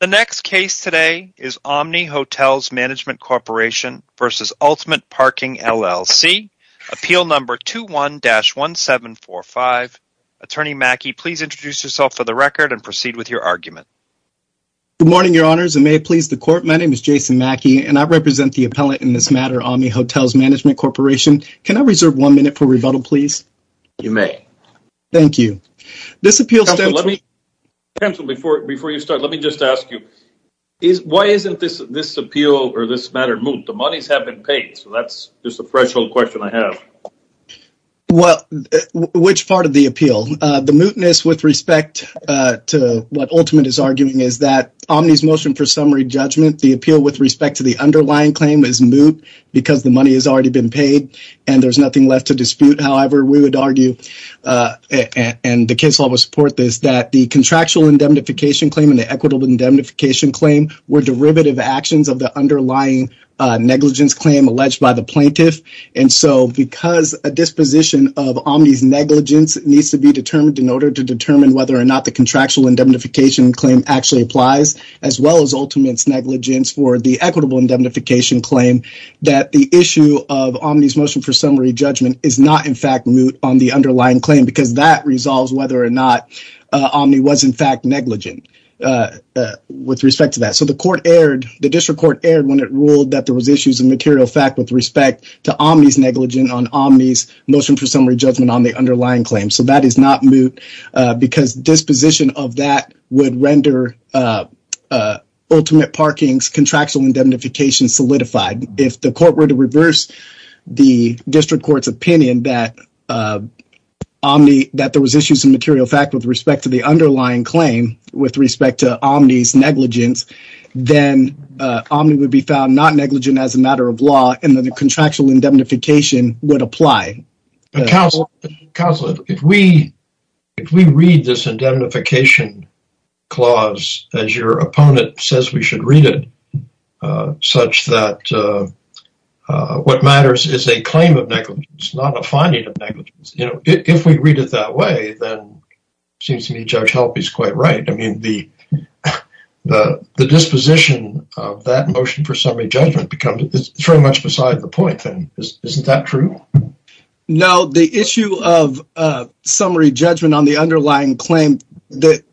The next case today is Omni Hotels Management Corporation v. Ultimate Parking, LLC. Appeal number 21-1745. Attorney Mackey, please introduce yourself for the record and proceed with your argument. Good morning, your honors, and may it please the court. My name is Jason Mackey and I represent the appellate in this matter, Omni Hotels Management Corporation. Can I reserve one minute for rebuttal, please? You may. Thank you. This appeal... Counselor, before you start, let me just ask you, why isn't this appeal or this matter moot? The monies have been paid, so that's just a threshold question I have. Well, which part of the appeal? The mootness with respect to what Ultimate is arguing is that Omni's motion for summary judgment, the appeal with respect to the underlying claim is moot because the money has already been paid and there's nothing left to dispute. However, we would argue, and the case law would support this, that the contractual indemnification claim and the equitable indemnification claim were derivative actions of the underlying negligence claim alleged by the plaintiff, and so because a disposition of Omni's negligence needs to be determined in order to determine whether or not the contractual indemnification claim actually applies, as well as Ultimate's negligence for the equitable indemnification claim, that the issue of Omni's motion for summary judgment is not, in fact, moot on the underlying claim because that resolves whether or not Omni was, in fact, negligent with respect to that. So the district court erred when it ruled that there was issues of material fact with respect to Omni's negligence on Omni's motion for summary judgment on the underlying claim, so that is not moot because disposition of that would render Ultimate Parking's contractual indemnification solidified. If the court were to reverse the district court's opinion that Omni, that there was issues of material fact with respect to the underlying claim with respect to Omni's negligence, then Omni would be found not negligent as a matter of law, and then the contractual indemnification would apply. Counselor, if we read this indemnification clause as your opponent says we should read it, such that what matters is a claim of negligence, not a finding of negligence, you know, if we read it that way, then it seems to me Judge Helpe is quite right. I mean, the disposition of that motion for summary judgment becomes very much beside the point then. Isn't that true? No, the issue of summary judgment on the underlying claim that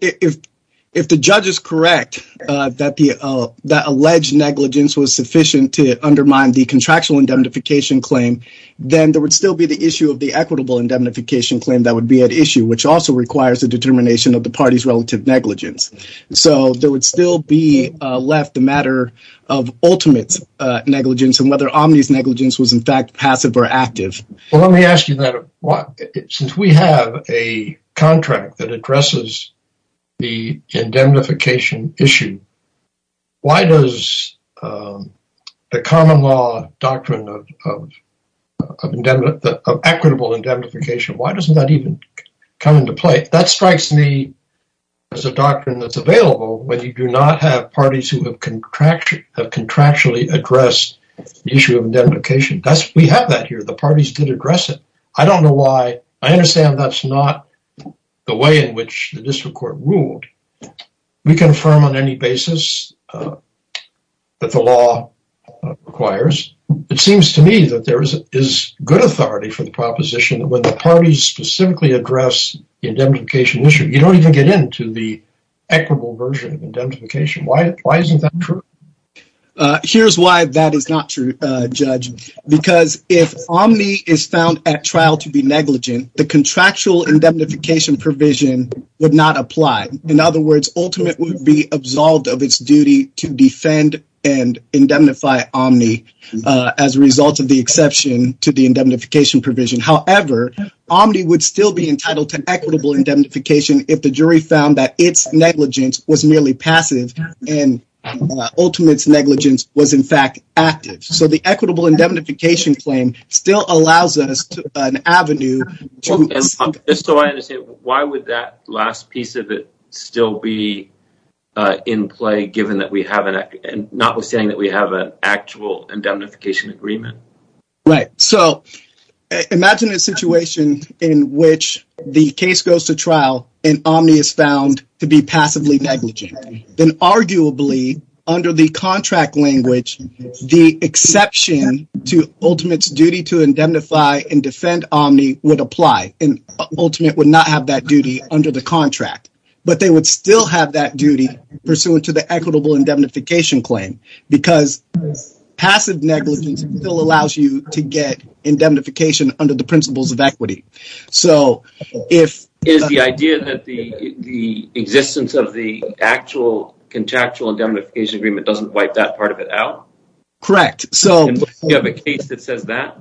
if the judge is correct that the alleged negligence was sufficient to undermine the contractual indemnification claim, then there would still be the issue of the equitable indemnification claim that would be at issue, which also requires the determination of the party's relative negligence. So, there would still be left the matter of Ultimate's negligence and whether Omni's negligence was in fact passive or active. Well, let me ask you that. Since we have a contract that addresses the indemnification issue, why does the common law doctrine of equitable indemnification, why doesn't that even come into play? That strikes me as a doctrine that's available when you do not have parties who have contractually addressed the issue of indemnification. We have that here. The parties did address it. I don't know why. I understand that's not the way in which the district court ruled. We confirm on any basis that the law requires. It seems to me that there is good authority for the proposition that when the parties specifically address the indemnification issue, you don't even get into the equitable version of indemnification. Why isn't that true? Here's why that is not true, Judge, because if Omni is found at trial to be negligent, the contractual indemnification provision would not apply. In other words, Ultimate would be absolved of its duty to defend and indemnify Omni as a result of the exception to the indemnification provision. However, Omni would still be entitled to equitable indemnification if the jury found that its equitable indemnification claim still allows us an avenue. Why would that last piece of it still be in play, notwithstanding that we have an actual indemnification agreement? Right. Imagine a situation in which the case goes to trial and Omni is found to be passively negligent. The exception to Ultimate's duty to indemnify and defend Omni would apply, and Ultimate would not have that duty under the contract, but they would still have that duty pursuant to the equitable indemnification claim because passive negligence still allows you to get indemnification under the principles of equity. Is the idea that the existence of the actual contractual indemnification claim a case that says that?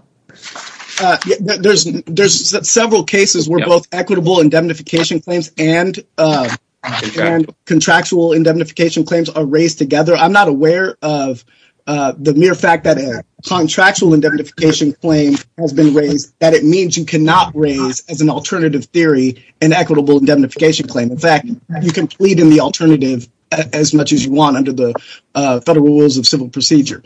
There's several cases where both equitable indemnification claims and contractual indemnification claims are raised together. I'm not aware of the mere fact that a contractual indemnification claim has been raised that it means you cannot raise as an alternative theory an equitable indemnification claim. In fact, you can plead in the alternative as much as you want under the federal rules of civil procedure.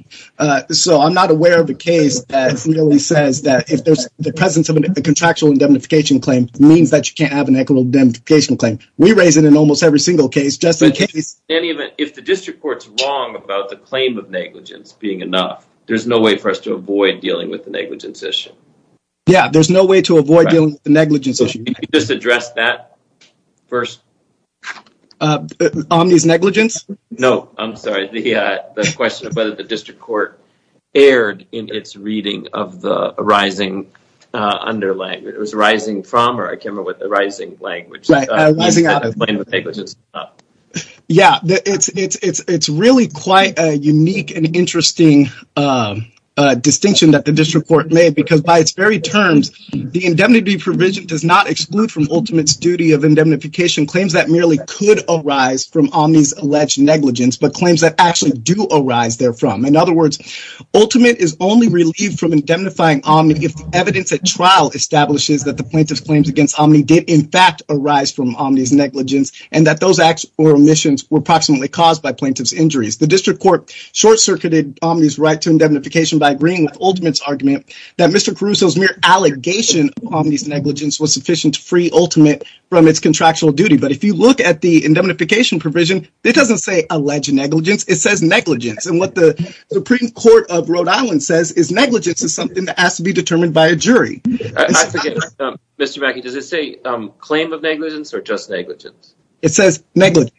So I'm not aware of a case that really says that if the presence of a contractual indemnification claim means that you can't have an equitable indemnification claim. We raise it in almost every single case just in case. If the district court's wrong about the claim of negligence being enough, there's no way for us to avoid dealing with the negligence issue. Yeah, there's no way to avoid dealing with the negligence issue. Can you just address that first? Omni's negligence? No, I'm sorry. The question of whether the district court aired in its reading of the arising under language. It was arising from or a camera with the rising language. Yeah, it's really quite a unique and interesting distinction that the district court made because by its very terms, the indemnity provision does not exclude from ultimate duty of indemnification claims that merely could arise from Omni's alleged negligence but claims that actually do arise there from. In other words, ultimate is only relieved from indemnifying Omni if evidence at trial establishes that the plaintiff's claims against Omni did in fact arise from Omni's negligence and that those acts or omissions were approximately caused by plaintiff's injuries. The district court short-circuited Omni's right to indemnification by agreeing with ultimate's argument that Mr. Caruso's mere allegation of Omni's negligence was sufficient to free ultimate from its contractual duty. But if you look at the indemnification provision, it doesn't say alleged negligence. It says negligence. And what the Supreme Court of Rhode Island says is negligence is something that has to be determined by a jury. Mr. Mackey, does it say claim of negligence or just negligence? It says negligence.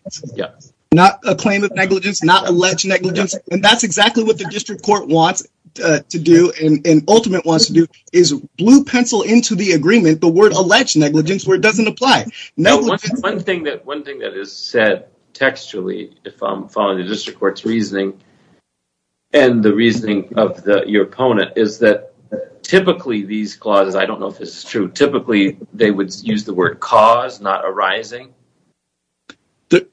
Not a claim of negligence, not alleged negligence. And that's exactly what the district court wants to do and ultimate wants to do is blue pencil into the agreement, the word alleged negligence where it doesn't apply. Now, one thing that is said textually, if I'm following the district court's reasoning and the reasoning of your opponent is that typically these clauses, I don't know if this is true, typically they would use the word cause not arising.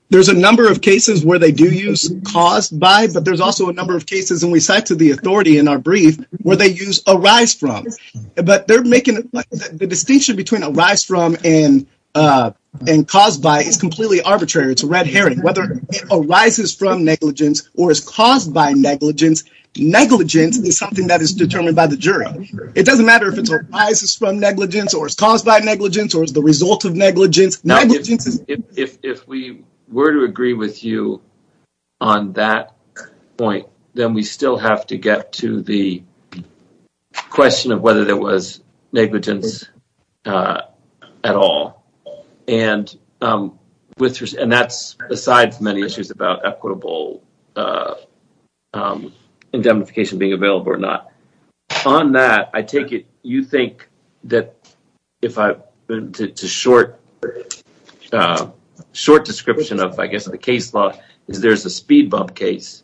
There's a number of cases where they do use cause by, but there's also a number of cases and we cite to the authority in our brief where they use arise from. But they're making the distinction between arise from and cause by is completely arbitrary. It's a red herring. Whether it arises from negligence or is caused by negligence, negligence is something that is determined by the jury. It doesn't matter if it arises from negligence or is caused by negligence or is the result of negligence. If we were to agree with you on that point, then we still have to get to the question of whether there was negligence at all. And that's besides many issues about equitable indemnification being available or not. On that, I take it you think that if I, to short description of I guess the case law is there's a speed bump case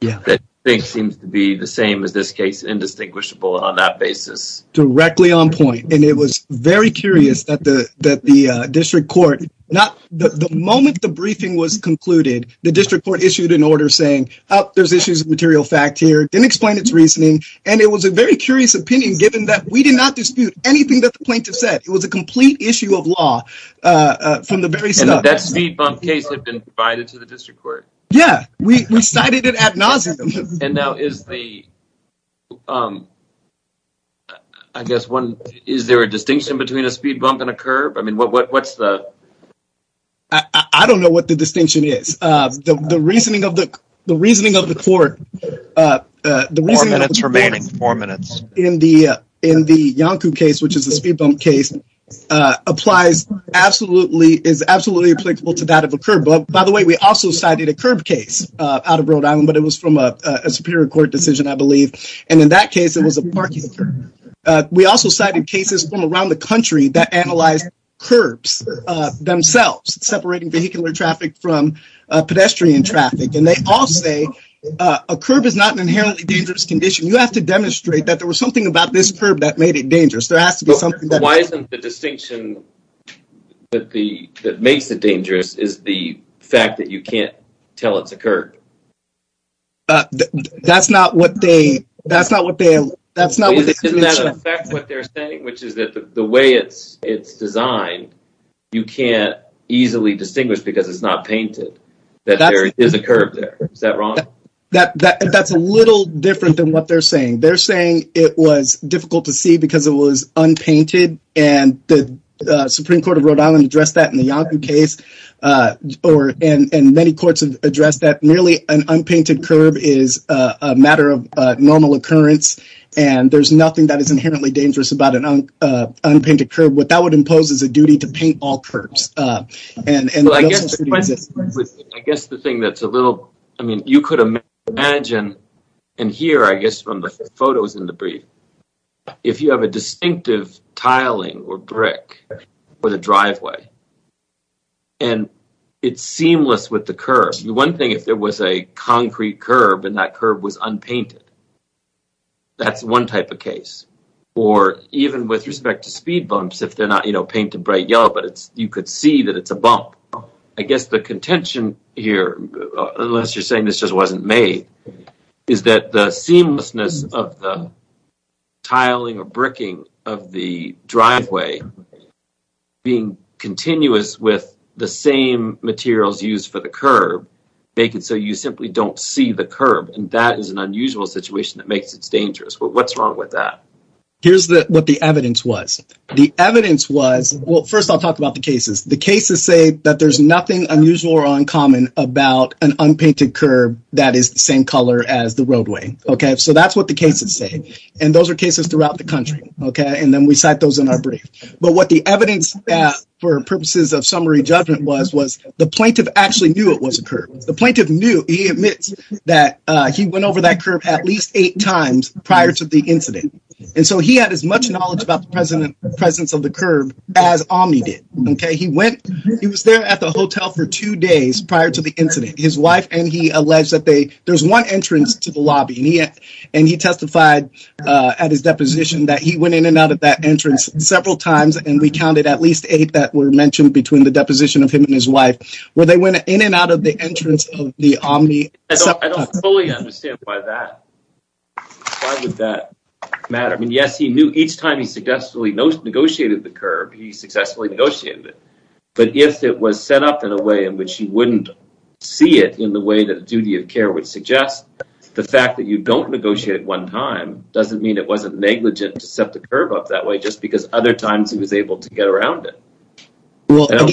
that seems to be the same as this case indistinguishable on that basis. Directly on point. And it was very curious that the district court, the moment the briefing was concluded, the district court issued an order saying there's issues of material fact here, didn't explain its reasoning. And it was a very curious opinion given that we did not dispute anything that the plaintiff said. It was a complete issue of law from the very start. That speed bump case had been provided to the district court. Yeah, we cited it ad nauseum. And now is the, I guess one, is there a distinction between a speed bump and a curb? I mean, what's the... I don't know what the distinction is. The reasoning of the court... Four minutes remaining, four minutes. In the Yonku case, which is the speed bump case, is absolutely applicable to that of a curb. But by the way, we also cited a curb case out of Rhode Island, but it was from a superior court decision, I believe. And in that case, it was a parking curb. We also cited cases from around the country that analyzed curbs themselves, separating vehicular traffic from pedestrian traffic. And they all say a curb is not an inherently dangerous condition. You have to demonstrate that there was something about this curb that made it dangerous. There has to be something... Why isn't the distinction that makes it dangerous is the fact that you can't tell it's a curb? That's not what they... Doesn't that affect what they're saying, which is that the way it's designed, you can't easily distinguish because it's not painted that there is a curb there. Is that wrong? That's a little different than what they're saying. They're saying it was difficult to see because it was unpainted. And the Supreme Court of Rhode Island addressed that in the Yonkoo case, and many courts have addressed that. Merely an unpainted curb is a matter of normal occurrence, and there's nothing that is inherently dangerous about an unpainted curb. What that would impose is a duty to paint all curbs. I guess the thing that's a little... I mean, you could imagine and hear, I guess, from the photos in the brief, if you have a distinctive tiling or brick for the driveway, and it's seamless with the curb. One thing, if there was a concrete curb and that curb was unpainted, that's one type of case. Or even with respect to speed bumps, if they're not painted bright yellow, but you could see that it's a bump. I guess the contention here, unless you're saying this just wasn't made, is that the seamlessness of the tiling or bricking of the driveway being continuous with the same materials used for the curb, make it so you simply don't see the curb. And that is an unusual situation that makes it dangerous. But what's wrong with that? Here's what the evidence was. The evidence was... Well, an unpainted curb that is the same color as the roadway. So that's what the cases say. And those are cases throughout the country. And then we cite those in our brief. But what the evidence for purposes of summary judgment was, was the plaintiff actually knew it was a curb. The plaintiff knew. He admits that he went over that curb at least eight times prior to the incident. And so he had as much knowledge about the presence of the curb as Omni did. He was there at the hotel for two days prior to the incident. His wife and he alleged that there's one entrance to the lobby. And he testified at his deposition that he went in and out of that entrance several times. And we counted at least eight that were mentioned between the deposition of him and his wife, where they went in and out of the entrance of the Omni. I don't fully understand why that matter. I mean, yes, he knew each time he successfully negotiated the curb, he successfully negotiated it. But if it was set up in a way in which you wouldn't see it in the way that the duty of care would suggest, the fact that you don't negotiate at one time doesn't mean it wasn't negligent to set the curb up that way just because other times he was able to get around it. That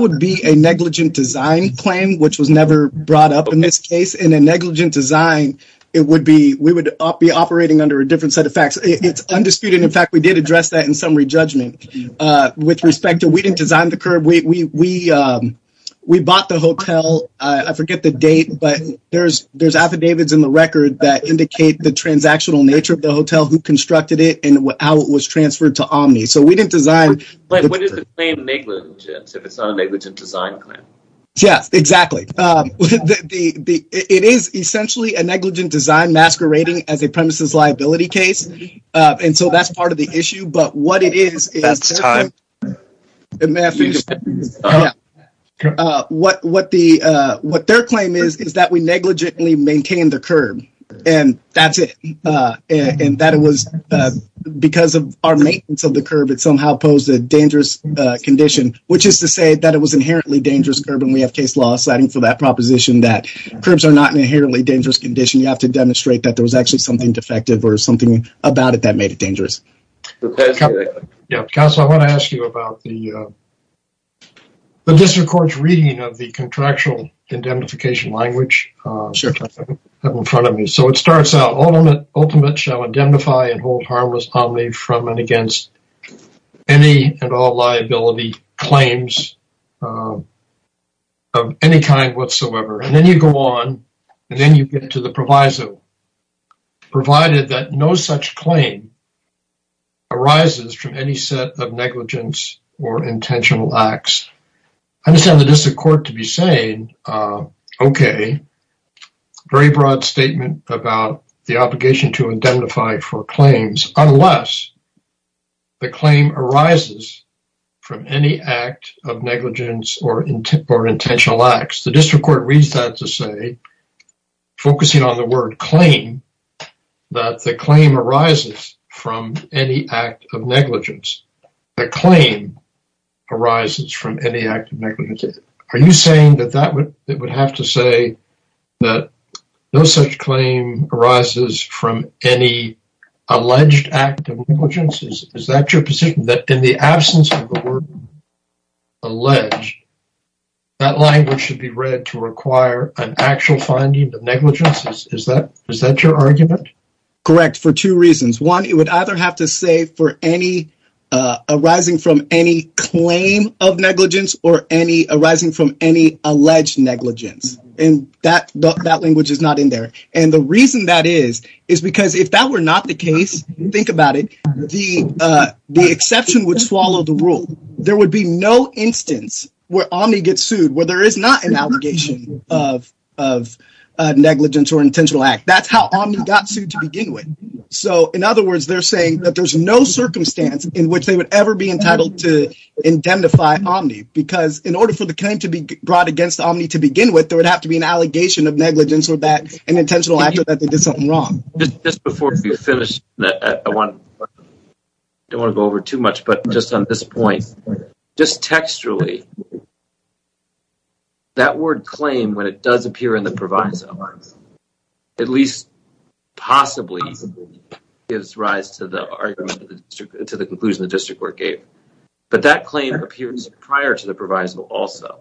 would be a negligent design claim, which was never brought up in this case. In a negligent design, it would be, we would be operating under a different set of facts. It's undisputed. In fact, we did address that in summary judgment with respect to, we didn't design the curb. We bought the hotel. I forget the date, but there's affidavits in the record that indicate the transactional nature of the hotel, who constructed it and how it was transferred to Omni. So we didn't design. But what is the claim negligent if it's not a negligent design claim? Yes, exactly. It is essentially a negligent design masquerading as a premises liability case. And so that's part of the issue. But what it is, what their claim is, is that we negligently maintain the curb and that's it. And that it was because of our maintenance of the curb, it somehow posed a dangerous condition, which is to say that it was inherently dangerous curb. And we have case law citing for that proposition that curbs are not inherently dangerous condition. You have to demonstrate that there was actually something defective or something about it that made it dangerous. Councilor, I want to ask you about the district court's reading of the contractual indemnification language in front of me. So it starts out, ultimate shall indemnify and hold harmless Omni from and against any and all and then you get to the proviso provided that no such claim arises from any set of negligence or intentional acts. I understand the district court to be saying, okay, very broad statement about the obligation to indemnify for claims unless the claim arises from any act of negligence or intentional acts. The district court reads that to say, focusing on the word claim, that the claim arises from any act of negligence. The claim arises from any act of negligence. Are you saying that it would have to say that no such claim arises from any alleged act of negligence? That language should be read to require an actual finding of negligence. Is that your argument? Correct. For two reasons. One, it would either have to say for any arising from any claim of negligence or any arising from any alleged negligence. And that language is not in there. And the reason that is, is because if that were not the case, think about it, the exception would swallow the rule. There would be no instance where Omni gets sued where there is not an allegation of negligence or intentional act. That's how Omni got sued to begin with. So in other words, they're saying that there's no circumstance in which they would ever be entitled to indemnify Omni because in order for the claim to be brought against Omni to begin with, there would have to be an allegation of negligence or that an intentional wrong. Just before we finish, I don't want to go over too much, but just on this point, just textually, that word claim, when it does appear in the proviso, at least possibly gives rise to the argument, to the conclusion the district court gave. But that claim appears prior to the proviso also.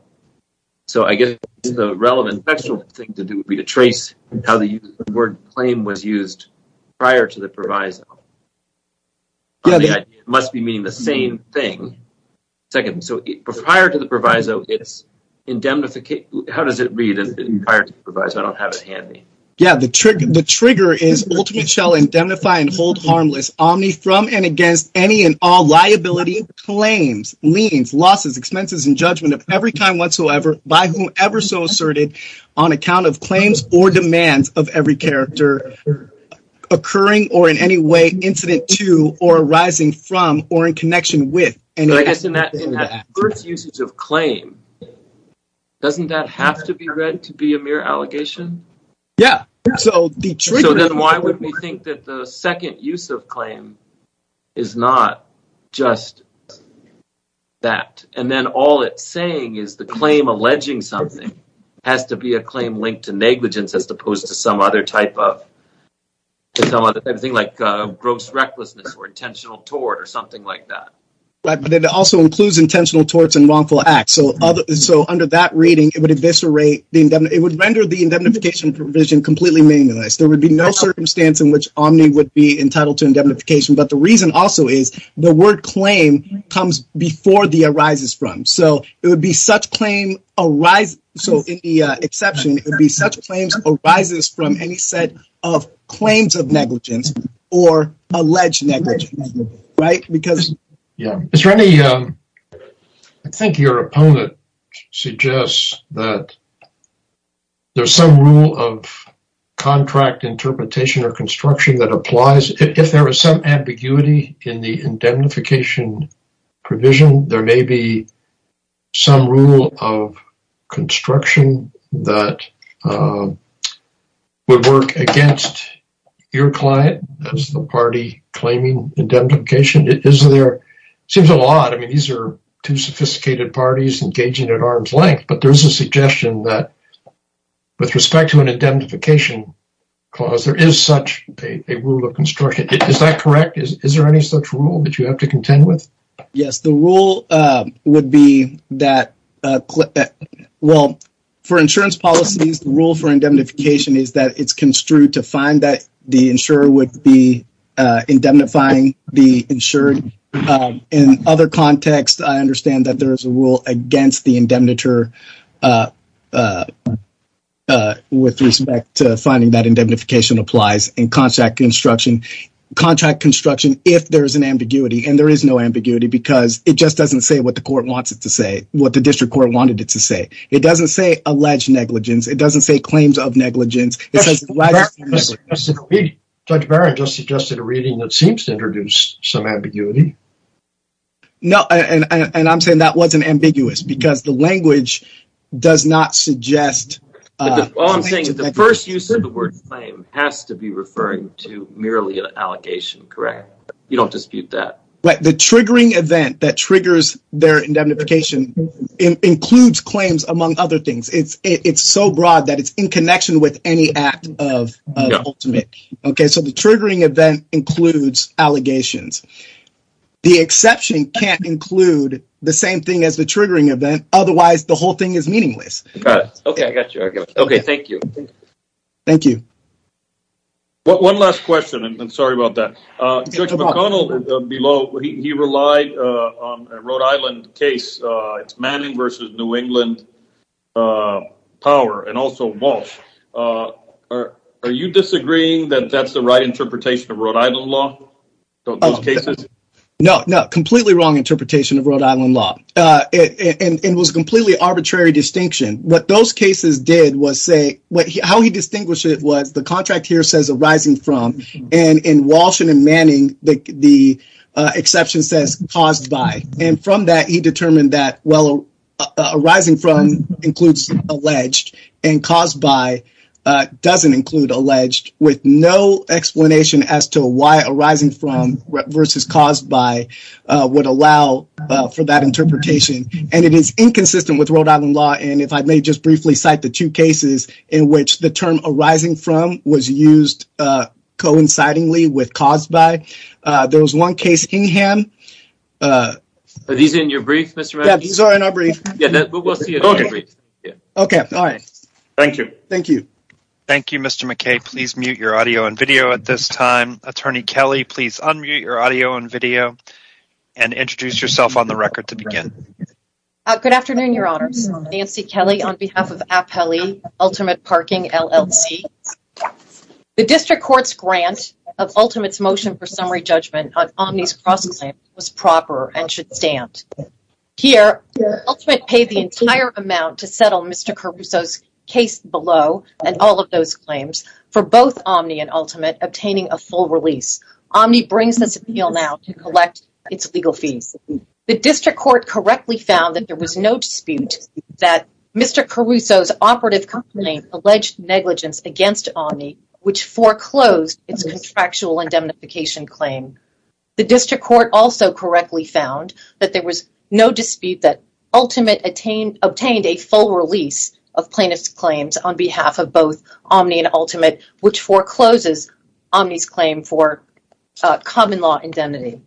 So I guess the relevant textual thing to do would be to trace how the word claim was used prior to the proviso. It must be meaning the same thing. Second, so prior to the proviso, it's indemnification. How does it read prior to the proviso? I don't have it handy. Yeah, the trigger is ultimately shall indemnify and hold harmless Omni from and against any and all liability, claims, liens, losses, expenses, and judgment of every kind whatsoever by whom ever so asserted on account of claims or demands of every character occurring or in any way incident to or arising from or in connection with. And I guess in that first usage of claim, doesn't that have to be read to be a mere allegation? Yeah. So then why would we think that the second use of claim is not just that? And then all it's saying is the claim alleging something has to be a claim linked to negligence as opposed to some other type of thing like gross recklessness or intentional tort or something like that. Right. But it also includes intentional torts and wrongful acts. So under that reading, it would eviscerate the indemnification provision completely minimalized. There would be no circumstance in which Omni would be entitled to indemnification. But the reason also is the word claim comes before the arises from. So it would be such claim arise. So in the exception, it would be such claims arises from any set of claims of negligence or alleged negligence. Right. Because. Yeah. Is there any. I think your opponent suggests that there's some rule of contract interpretation or construction that applies. If there is some ambiguity in the indemnification provision, there may be some rule of construction that would work against your client as the party claiming indemnification. It is there seems a lot. I mean, these are two sophisticated parties engaging at arm's length. But there's a suggestion that with respect to an indemnification clause, there is such a rule of construction. Is that correct? Is there any such rule that you have to contend with? Yes. The rule would be that. Well, for insurance policies, the rule for indemnification is that it's construed to find that the insurer would be indemnifying the insured. In other contexts, I understand that there's a rule against the indemniture with respect to finding that indemnification applies in contract construction. Contract construction, if there is an ambiguity and there is no ambiguity because it just doesn't say what the court wants it to say, what the district court wanted it to say. It doesn't say alleged negligence. It doesn't say claims of negligence. Judge Barron just suggested a reading that seems to introduce some ambiguity. No, and I'm saying that wasn't ambiguous because the language does not suggest. All I'm saying is the first use of the word claim has to be referring to merely an allegation, correct? You don't dispute that. But the triggering event that triggers their indemnification includes claims among other things. It's so broad that it's in connection with any act of ultimate. Okay, so the triggering event includes allegations. The exception can't include the same thing as the triggering event. Otherwise, the whole thing is meaningless. Okay, I got you. Okay, thank you. Thank you. One last question, and I'm sorry about that. Judge McConnell, he relied on a Rhode Island power and also Walsh. Are you disagreeing that that's the right interpretation of Rhode Island law? No, completely wrong interpretation of Rhode Island law. It was completely arbitrary distinction. What those cases did was say, how he distinguished it was the contract here says arising from, and in Walsh and in Manning, the exception says caused by. And from that, he determined that well, arising from includes alleged and caused by doesn't include alleged with no explanation as to why arising from versus caused by would allow for that interpretation. And it is inconsistent with Rhode Island law. And if I may just briefly cite the two cases in which the term arising from was used coincidingly with caused by, there was one case in Kingham. Are these in your brief, Mr. McKay? Yeah, these are in our brief. Okay, all right. Thank you. Thank you. Thank you, Mr. McKay. Please mute your audio and video at this time. Attorney Kelly, please unmute your audio and video and introduce yourself on the record to begin. Good afternoon, your honors. Nancy Kelly on behalf of Appelli Ultimate Parking, LLC. The district court's grant of ultimate motion for summary judgment on Omni's cross-claim was proper and should stand. Here, Ultimate paid the entire amount to settle Mr. Caruso's case below and all of those claims for both Omni and Ultimate obtaining a full release. Omni brings this appeal now to collect its legal fees. The district court correctly found that there was no dispute that Mr. Caruso's operative company alleged negligence against Omni, which foreclosed its contractual indemnification claim. The district court also correctly found that there was no dispute that Ultimate obtained a full release of plaintiff's claims on behalf of both Omni and Ultimate, which forecloses Omni's claim for common law indemnity.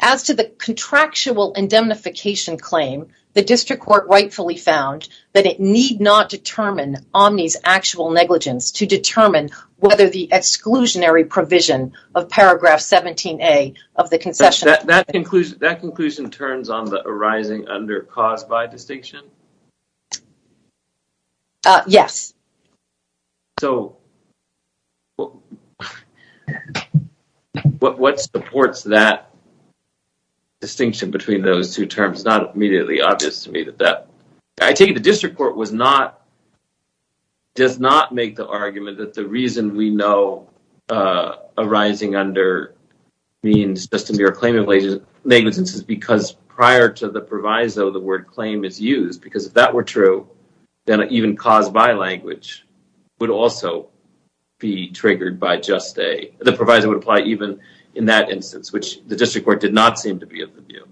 As to the contractual indemnification claim, the district court rightfully found that it need not determine Omni's actual negligence to determine whether the exclusionary provision of paragraph 17a of the concession... That conclusion turns on the arising under cause by distinction? Yes. So, what supports that distinction between those two terms? It's not immediately obvious to me that I take it the district court was not does not make the argument that the reason we know uh arising under means just a mere claim of negligence is because prior to the proviso the word claim is used because if that were true then even cause by language would also be triggered by just a the proviso would apply even in that instance which the district court not seem to be of the view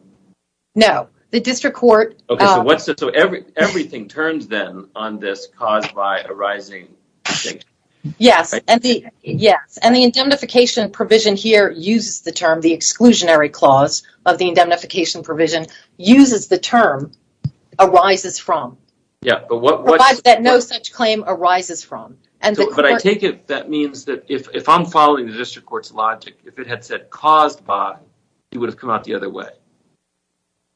no the district court okay so what's it so every everything turns then on this caused by arising yes and the yes and the indemnification provision here uses the term the exclusionary clause of the indemnification provision uses the term arises from yeah but what provides that no such claim arises from and but i take it that means that if if i'm following the district court's logic if it had said caused by it would have come out the other way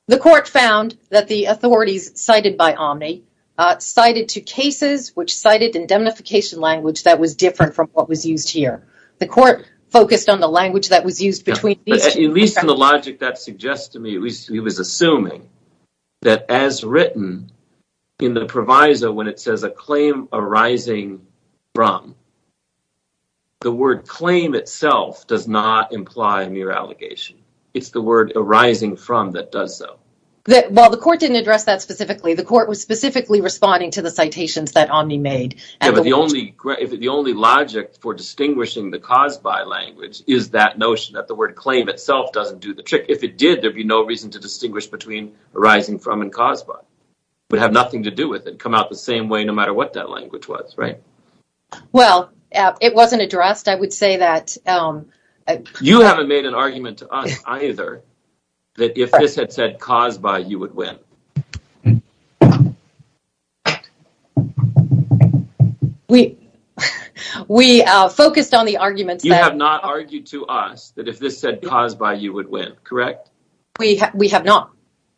the court found that the authorities cited by omni uh cited two cases which cited indemnification language that was different from what was used here the court focused on the language that was used between at least in the logic that suggests to me at least he was assuming that as written in the proviso when it says a claim arising from the word claim itself does not imply a mere allegation it's the word arising from that does so that while the court didn't address that specifically the court was specifically responding to the citations that omni made and the only if the only logic for distinguishing the caused by language is that notion that the word claim itself doesn't do the trick if it did there'd be no reason to distinguish between arising from and caused by would have nothing to do with it come out the same way no matter what that language was right well it wasn't addressed i would say that um you haven't made an argument to us either that if this had said caused by you would win we we uh focused on the arguments you have not argued to us that if this said caused by you would win correct we we have not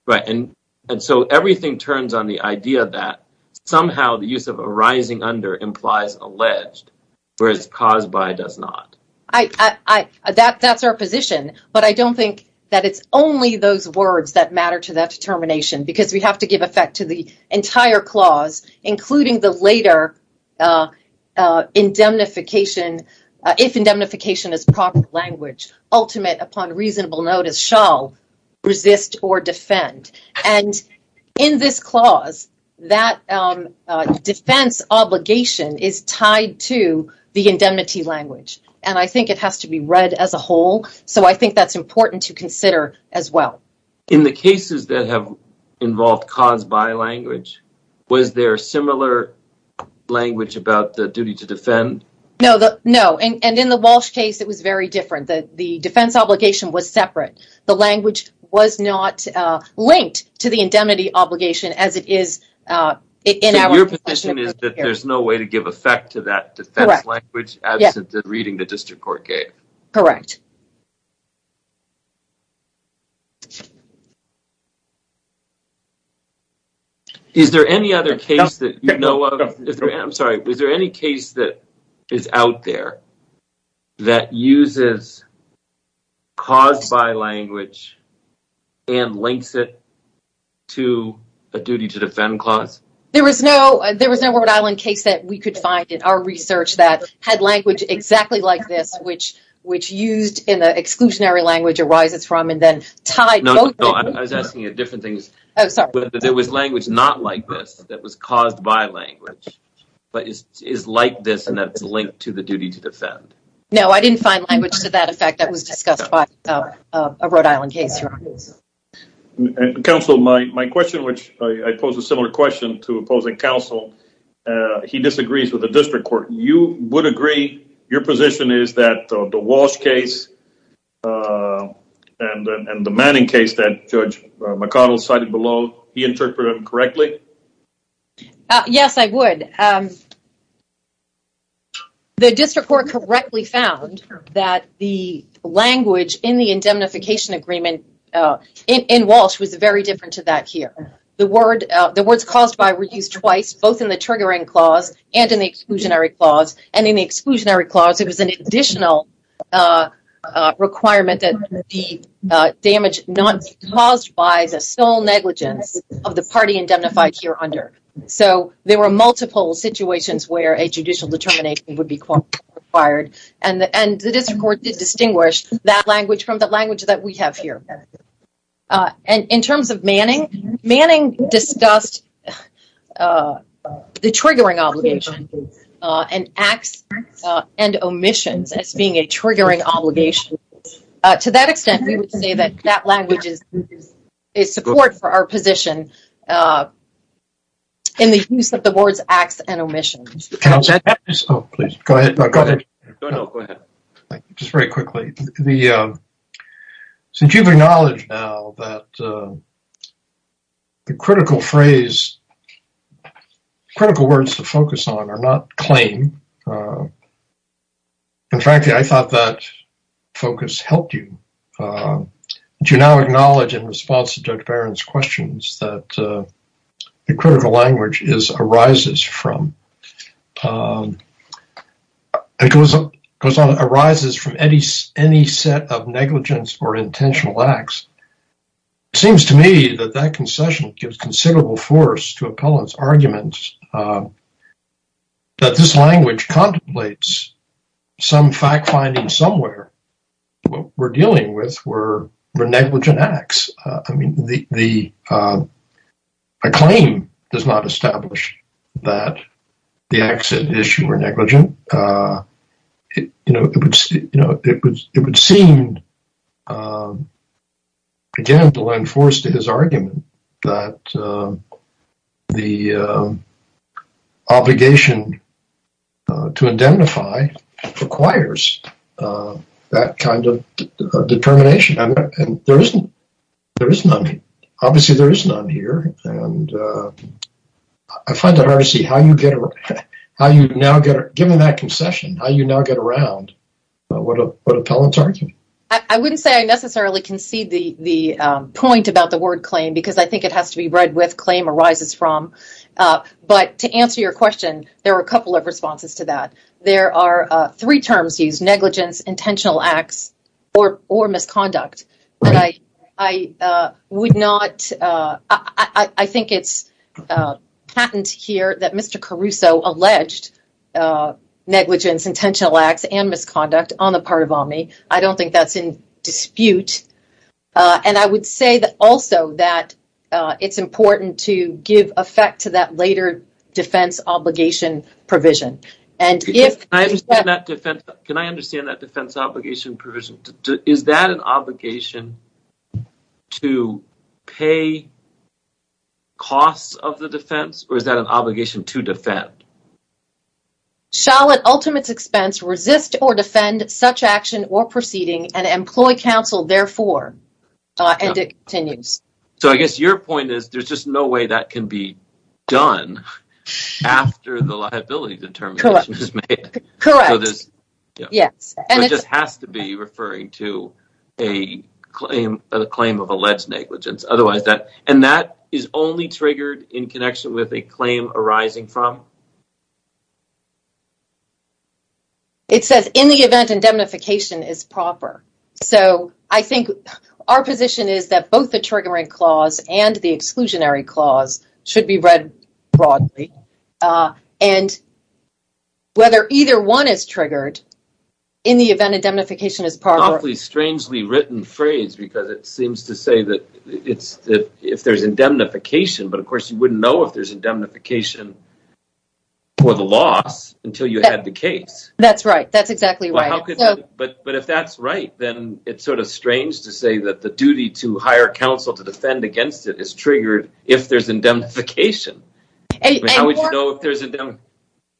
right and and so everything turns on the idea that somehow the use of arising under implies alleged whereas caused by does not i i that that's our position but i don't think that it's only those words that matter to that determination because we have to give effect to the entire clause including the later uh uh indemnification if indemnification is proper language ultimate upon reasonable notice shall resist or defend and in this clause that um defense obligation is tied to the indemnity language and i think it has to be read as a whole so i think that's important to consider as well in the cases that have involved caused by language was there similar language about the duty to defend no the no and and in the walsh case it was very different the the defense obligation was separate the language was not uh linked to the indemnity obligation as it is uh in your position is that there's no way to give effect language absent that reading the district court gave correct is there any other case that you know of i'm sorry was there any case that is out there that uses caused by language and links it to a duty to defend clause there was no there was no that we could find in our research that had language exactly like this which which used in the exclusionary language arises from and then tied no i was asking you different things oh sorry there was language not like this that was caused by language but is is like this and that's linked to the duty to defend no i didn't find language to that effect that was discussed by a rhode island case counsel my my question which i pose a similar question to opposing counsel he disagrees with the district court you would agree your position is that the walsh case and and the manning case that judge mcconnell cited below he interpreted correctly yes i would the district court correctly found that the language in the indemnification agreement in walsh was very different to that here the word the words caused by were used twice both in the triggering clause and in the exclusionary clause and in the exclusionary clause it was an additional uh requirement that the damage not caused by the sole negligence of the party indemnified here under so there were multiple situations where a judicial determination would be required and and the district court did distinguish that language from the language that we have here uh and in terms of manning manning discussed uh the triggering obligation uh and acts uh and omissions as being a triggering obligation uh to that extent we would say that that language is is support for our position uh in the use of the board's acts and omissions oh please go ahead go ahead just very quickly the uh since you've acknowledged now that the critical phrase critical words to focus on are not claim uh and frankly i thought that focus helped you uh do you now acknowledge in response to judge baron's questions that the critical language is arises from um it goes up goes on arises from any any set of negligence or intentional acts it seems to me that that concession gives considerable force to appellants arguments that this language contemplates some fact finding somewhere what we're dealing with were negligent acts i mean the the uh a claim does not establish that the exit issue were negligent uh you know it would you know it would it would seem um again to lend force to his argument that um the uh obligation uh to indemnify requires uh that kind of determination and there isn't there is none obviously there is none here and uh i find it hard to see how you get how you now get given that concession how you now get around uh what a what appellants argument i wouldn't say i necessarily concede the the um point about the word claim because i think it has to be read with claim arises from uh but to answer your question there are a couple of responses to that there are uh three terms used negligence intentional acts or or misconduct but i i uh would not uh i i think it's uh patent here that mr caruso alleged uh negligence intentional acts and misconduct on the part of omni i don't think that's in dispute uh and i would say that also that uh it's important to give effect to that later defense obligation provision and if i understand that defense can i understand that defense obligation provision is that an obligation to pay costs of the defense or is that an obligation to defend shall at ultimate expense resist or defend such action or proceeding and employ counsel therefore and it continues so i guess your point is there's just no way that can be done after the liability determination is made correct so this yes and it just has to be referring to a claim a claim of alleged negligence otherwise that and that is only triggered in connection with a claim arising from it says in the event indemnification is proper so i think our position is that both the triggering clause and the exclusionary clause should be read broadly uh and whether either one is triggered in the event indemnification is probably strangely written phrase because it seems to say that it's that if there's indemnification but of course you wouldn't know if there's indemnification for the loss until you had the case that's right that's exactly right but but if that's right then it's sort of strange to say that the duty to hire counsel to defend against it is triggered if there's indemnification how would you know if there's a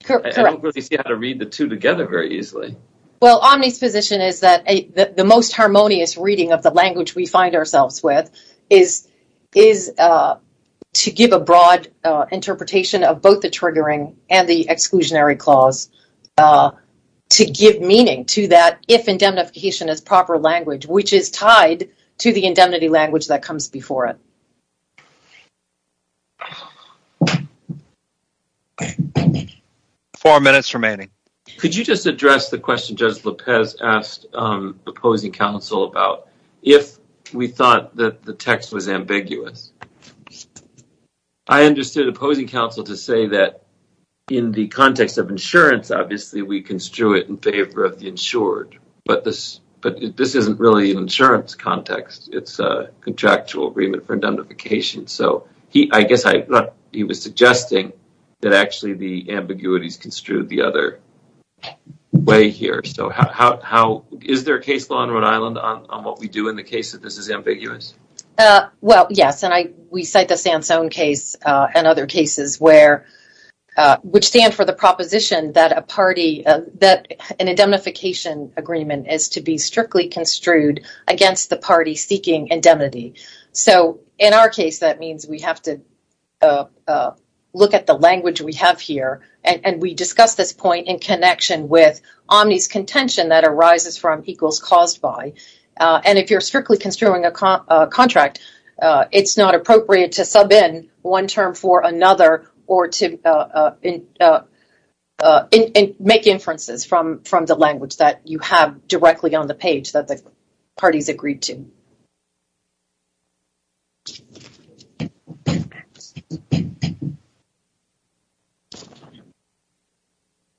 correct i don't really see how to read the two together very easily well omni's position is that a the most harmonious reading of the language we find ourselves with is is uh to give broad uh interpretation of both the triggering and the exclusionary clause uh to give meaning to that if indemnification is proper language which is tied to the indemnity language that comes before it four minutes remaining could you just address the question judge lopez asked um about if we thought that the text was ambiguous i understood opposing counsel to say that in the context of insurance obviously we construe it in favor of the insured but this but this isn't really an insurance context it's a contractual agreement for indemnification so he i guess i thought he was suggesting that actually the ambiguities construed the other way here so how how is there a case law in rhode island on what we do in the case that this is ambiguous uh well yes and i we cite the sans own case uh and other cases where uh which stand for the proposition that a party that an indemnification agreement is to be strictly construed against the party seeking indemnity so in our case that means we have to uh uh look at the language we have here and we discuss this point in connection with omni's contention that arises from equals caused by uh and if you're strictly construing a contract uh it's not appropriate to sub in one term for another or to uh uh uh uh and make inferences from from the language that you have directly on the page that the parties agreed to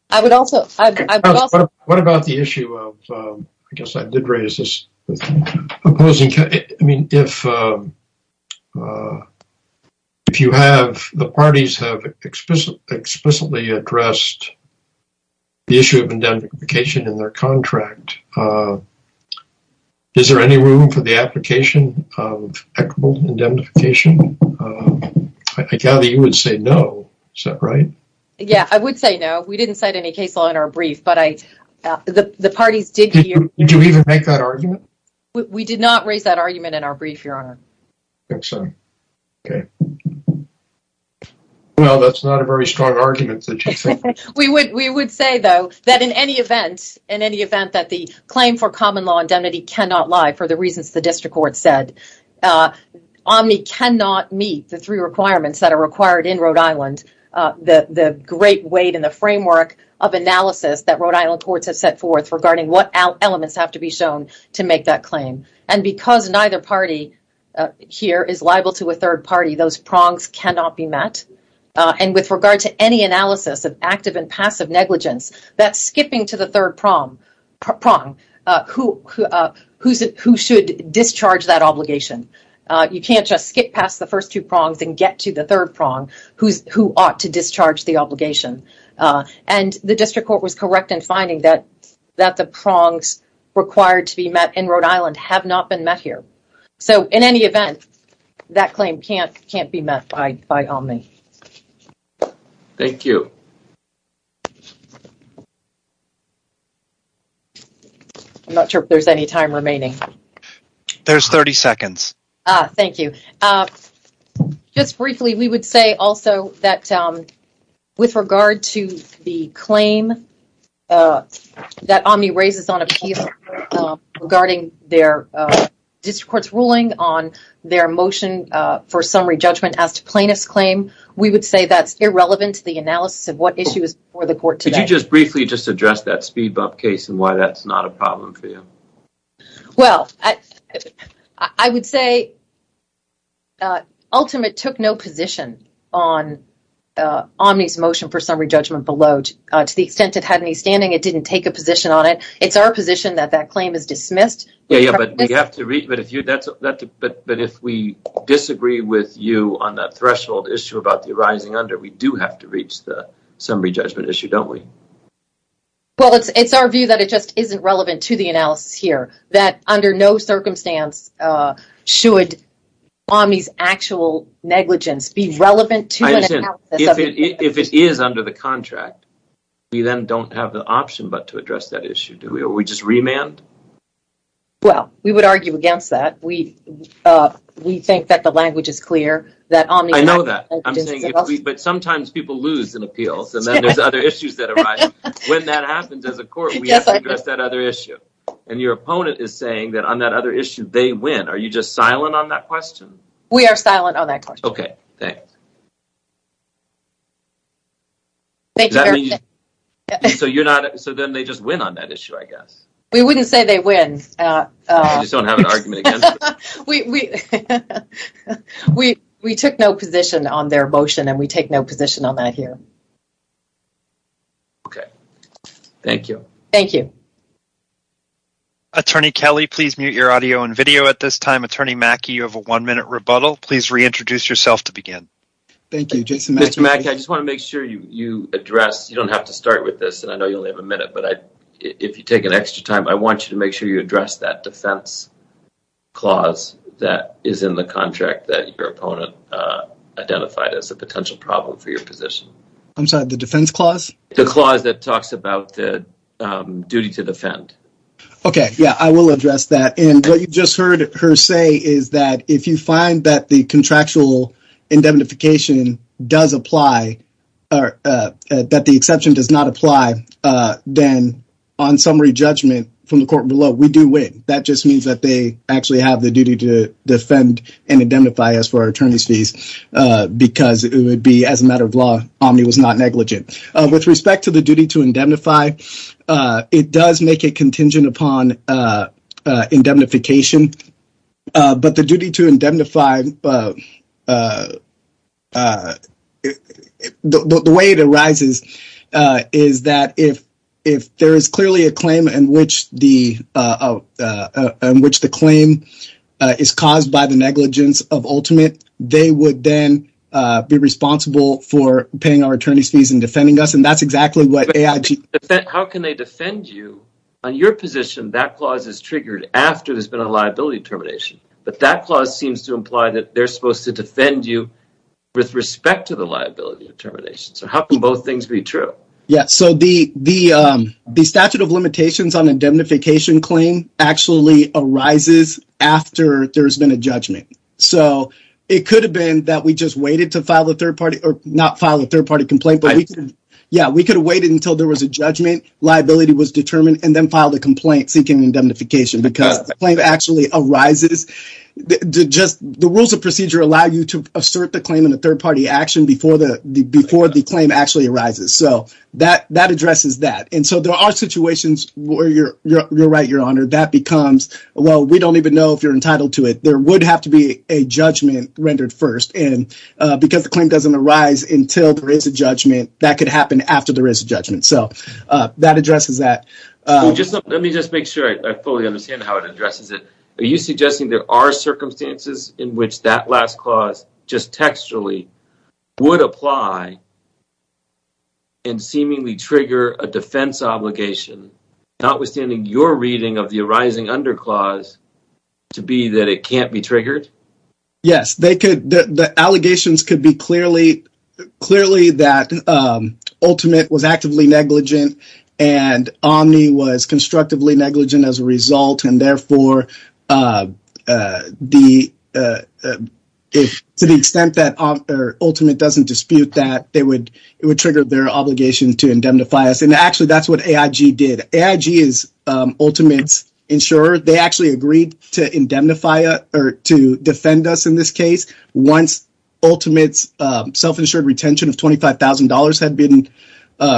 i would also i would also what about the issue of um i guess i did raise this opposing i mean if uh uh if you have the parties have explicitly addressed the issue of indemnification in their contract uh is there any room for the application of equitable indemnification i gather you would say no is that right yeah i would say no we didn't cite any case law in our brief but i the the parties did you did you even make that argument we did not raise that argument in our brief your honor i think so okay well that's not a very strong argument that you think we would we would say though that in any event in any event that the for common law indemnity cannot lie for the reasons the district court said uh omni cannot meet the three requirements that are required in rhode island uh the the great weight in the framework of analysis that rhode island courts have set forth regarding what elements have to be shown to make that claim and because neither party here is liable to a third party those prongs cannot be met uh and with regard to any analysis of active and passive negligence that's skipping to the third prom prong uh who uh who's who should discharge that obligation uh you can't just skip past the first two prongs and get to the third prong who's who ought to discharge the obligation uh and the district court was correct in finding that that the prongs required to be met in rhode island have not been met here so in any event that claim can't can't be met by by omni thank you i'm not sure if there's any time remaining there's 30 seconds ah thank you uh just briefly we would say also that um with regard to the claim uh that omni raises on appeal regarding their uh district court's ruling on their motion uh for summary judgment as to we would say that's irrelevant to the analysis of what issue is before the court today did you just briefly just address that speed bump case and why that's not a problem for you well i i would say uh ultimate took no position on uh omni's motion for summary judgment below to the extent it had any standing it didn't take a position on it it's our position that that claim is dismissed yeah yeah but we have to read but if you that's that but but if we disagree with you on that threshold issue about the arising under we do have to reach the summary judgment issue don't we well it's it's our view that it just isn't relevant to the analysis here that under no circumstance uh should omni's actual negligence be relevant to if it if it is under the contract we then don't have the option but to address that issue do we just remand well we would argue against that we uh we think that the language is clear that i know that i'm saying but sometimes people lose in appeals and then there's other issues that arise when that happens as a court we have to address that other issue and your opponent is saying that on that other issue they win are you just silent on that question we are silent on that question okay thanks thank you so you're not so then they just win on that issue i guess we wouldn't say they win uh just don't have an argument again we we we we took no position on their motion and we take no position on that here okay thank you thank you attorney kelly please mute your audio and video at this time attorney mackie you have a one minute rebuttal please reintroduce yourself to mr mack i just want to make sure you you address you don't have to start with this and i know you only have a minute but i if you take an extra time i want you to make sure you address that defense clause that is in the contract that your opponent uh identified as a potential problem for your position i'm sorry the defense clause the clause that talks about the um duty to defend okay yeah i will address that and what you just heard her say is that if you find that the contractual indemnification does apply or that the exception does not apply uh then on summary judgment from the court below we do win that just means that they actually have the duty to defend and indemnify us for our attorney's fees uh because it would be as a matter of law omni was not negligent with respect to the duty to indemnify uh it does make a contingent upon uh indemnification uh but the duty to indemnify uh uh the way it arises uh is that if if there is clearly a claim in which the uh uh uh in which the claim uh is caused by the negligence of ultimate they would then uh be responsible for paying our attorney's fees and defending us and that's exactly what aig how can they defend you on your position that clause is triggered after there's been a liability termination but that clause seems to imply that they're supposed to defend you with respect to the liability determination so how can both things be true yeah so the the um the statute of limitations on indemnification claim actually arises after there's been a judgment so it could have been that we just waited to file a third party or not file a third party complaint but yeah we could have waited until there was a judgment liability was determined and then filed a complaint seeking indemnification because the claim actually arises just the rules of procedure allow you to assert the claim in a third party action before the before the claim actually arises so that that addresses that and so there are situations where you're you're right your honor that becomes well we don't even know if you're entitled to it there would have to be a judgment rendered first and uh because the claim doesn't arise until there is a judgment that could happen after there is a judgment so uh that addresses that just let me just make sure i fully understand how it addresses it are you suggesting there are circumstances in which that last clause just textually would apply and seemingly trigger a defense obligation notwithstanding your reading of the arising under clause to be that it can't be triggered yes they could the allegations could be clearly clearly that um ultimate was actively negligent and omni was constructively negligent as a result and therefore uh uh the uh if to the extent that um or ultimate doesn't dispute that they would it would trigger their obligation to indemnify us and actually that's aig is um ultimate's insurer they actually agreed to indemnify or to defend us in this case once ultimate's uh self-insured retention of twenty five thousand dollars had been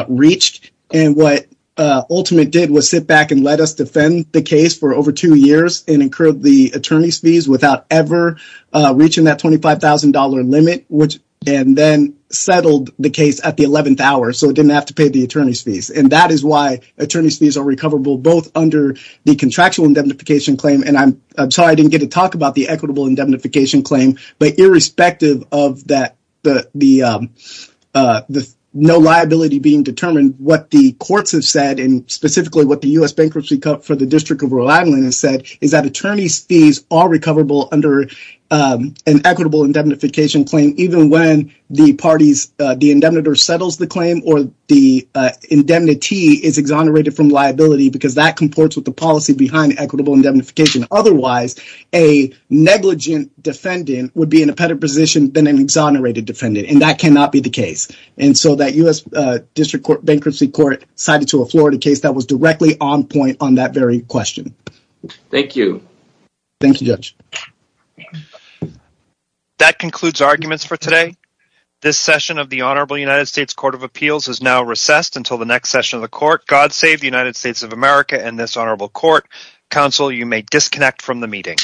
reached and what uh ultimate did was sit back and let us defend the case for over two years and incurred the attorney's fees without ever uh reaching that twenty five thousand dollar limit which and then settled the case at the 11th hour so it didn't have to pay the attorney's fees and that is why attorney's fees are recoverable both under the contractual indemnification claim and i'm i'm sorry i didn't get to talk about the equitable indemnification claim but irrespective of that the the um uh the no liability being determined what the courts have said and specifically what the u.s bankruptcy cut for the district of rhode island has said is that attorney's fees are recoverable under um an equitable indemnification claim even when the parties uh the indemnitor settles the claim or the uh indemnity is exonerated from liability because that comports with the policy behind equitable indemnification otherwise a negligent defendant would be in a better position than an exonerated defendant and that cannot be the case and so that u.s uh district court bankruptcy court cited to a florida case that was directly on point on that very question thank you thank you judge that concludes arguments for today this session of the honorable united states court of appeals has now recessed until the next session of the court god save the united states of america and this honorable court council you may disconnect from the meeting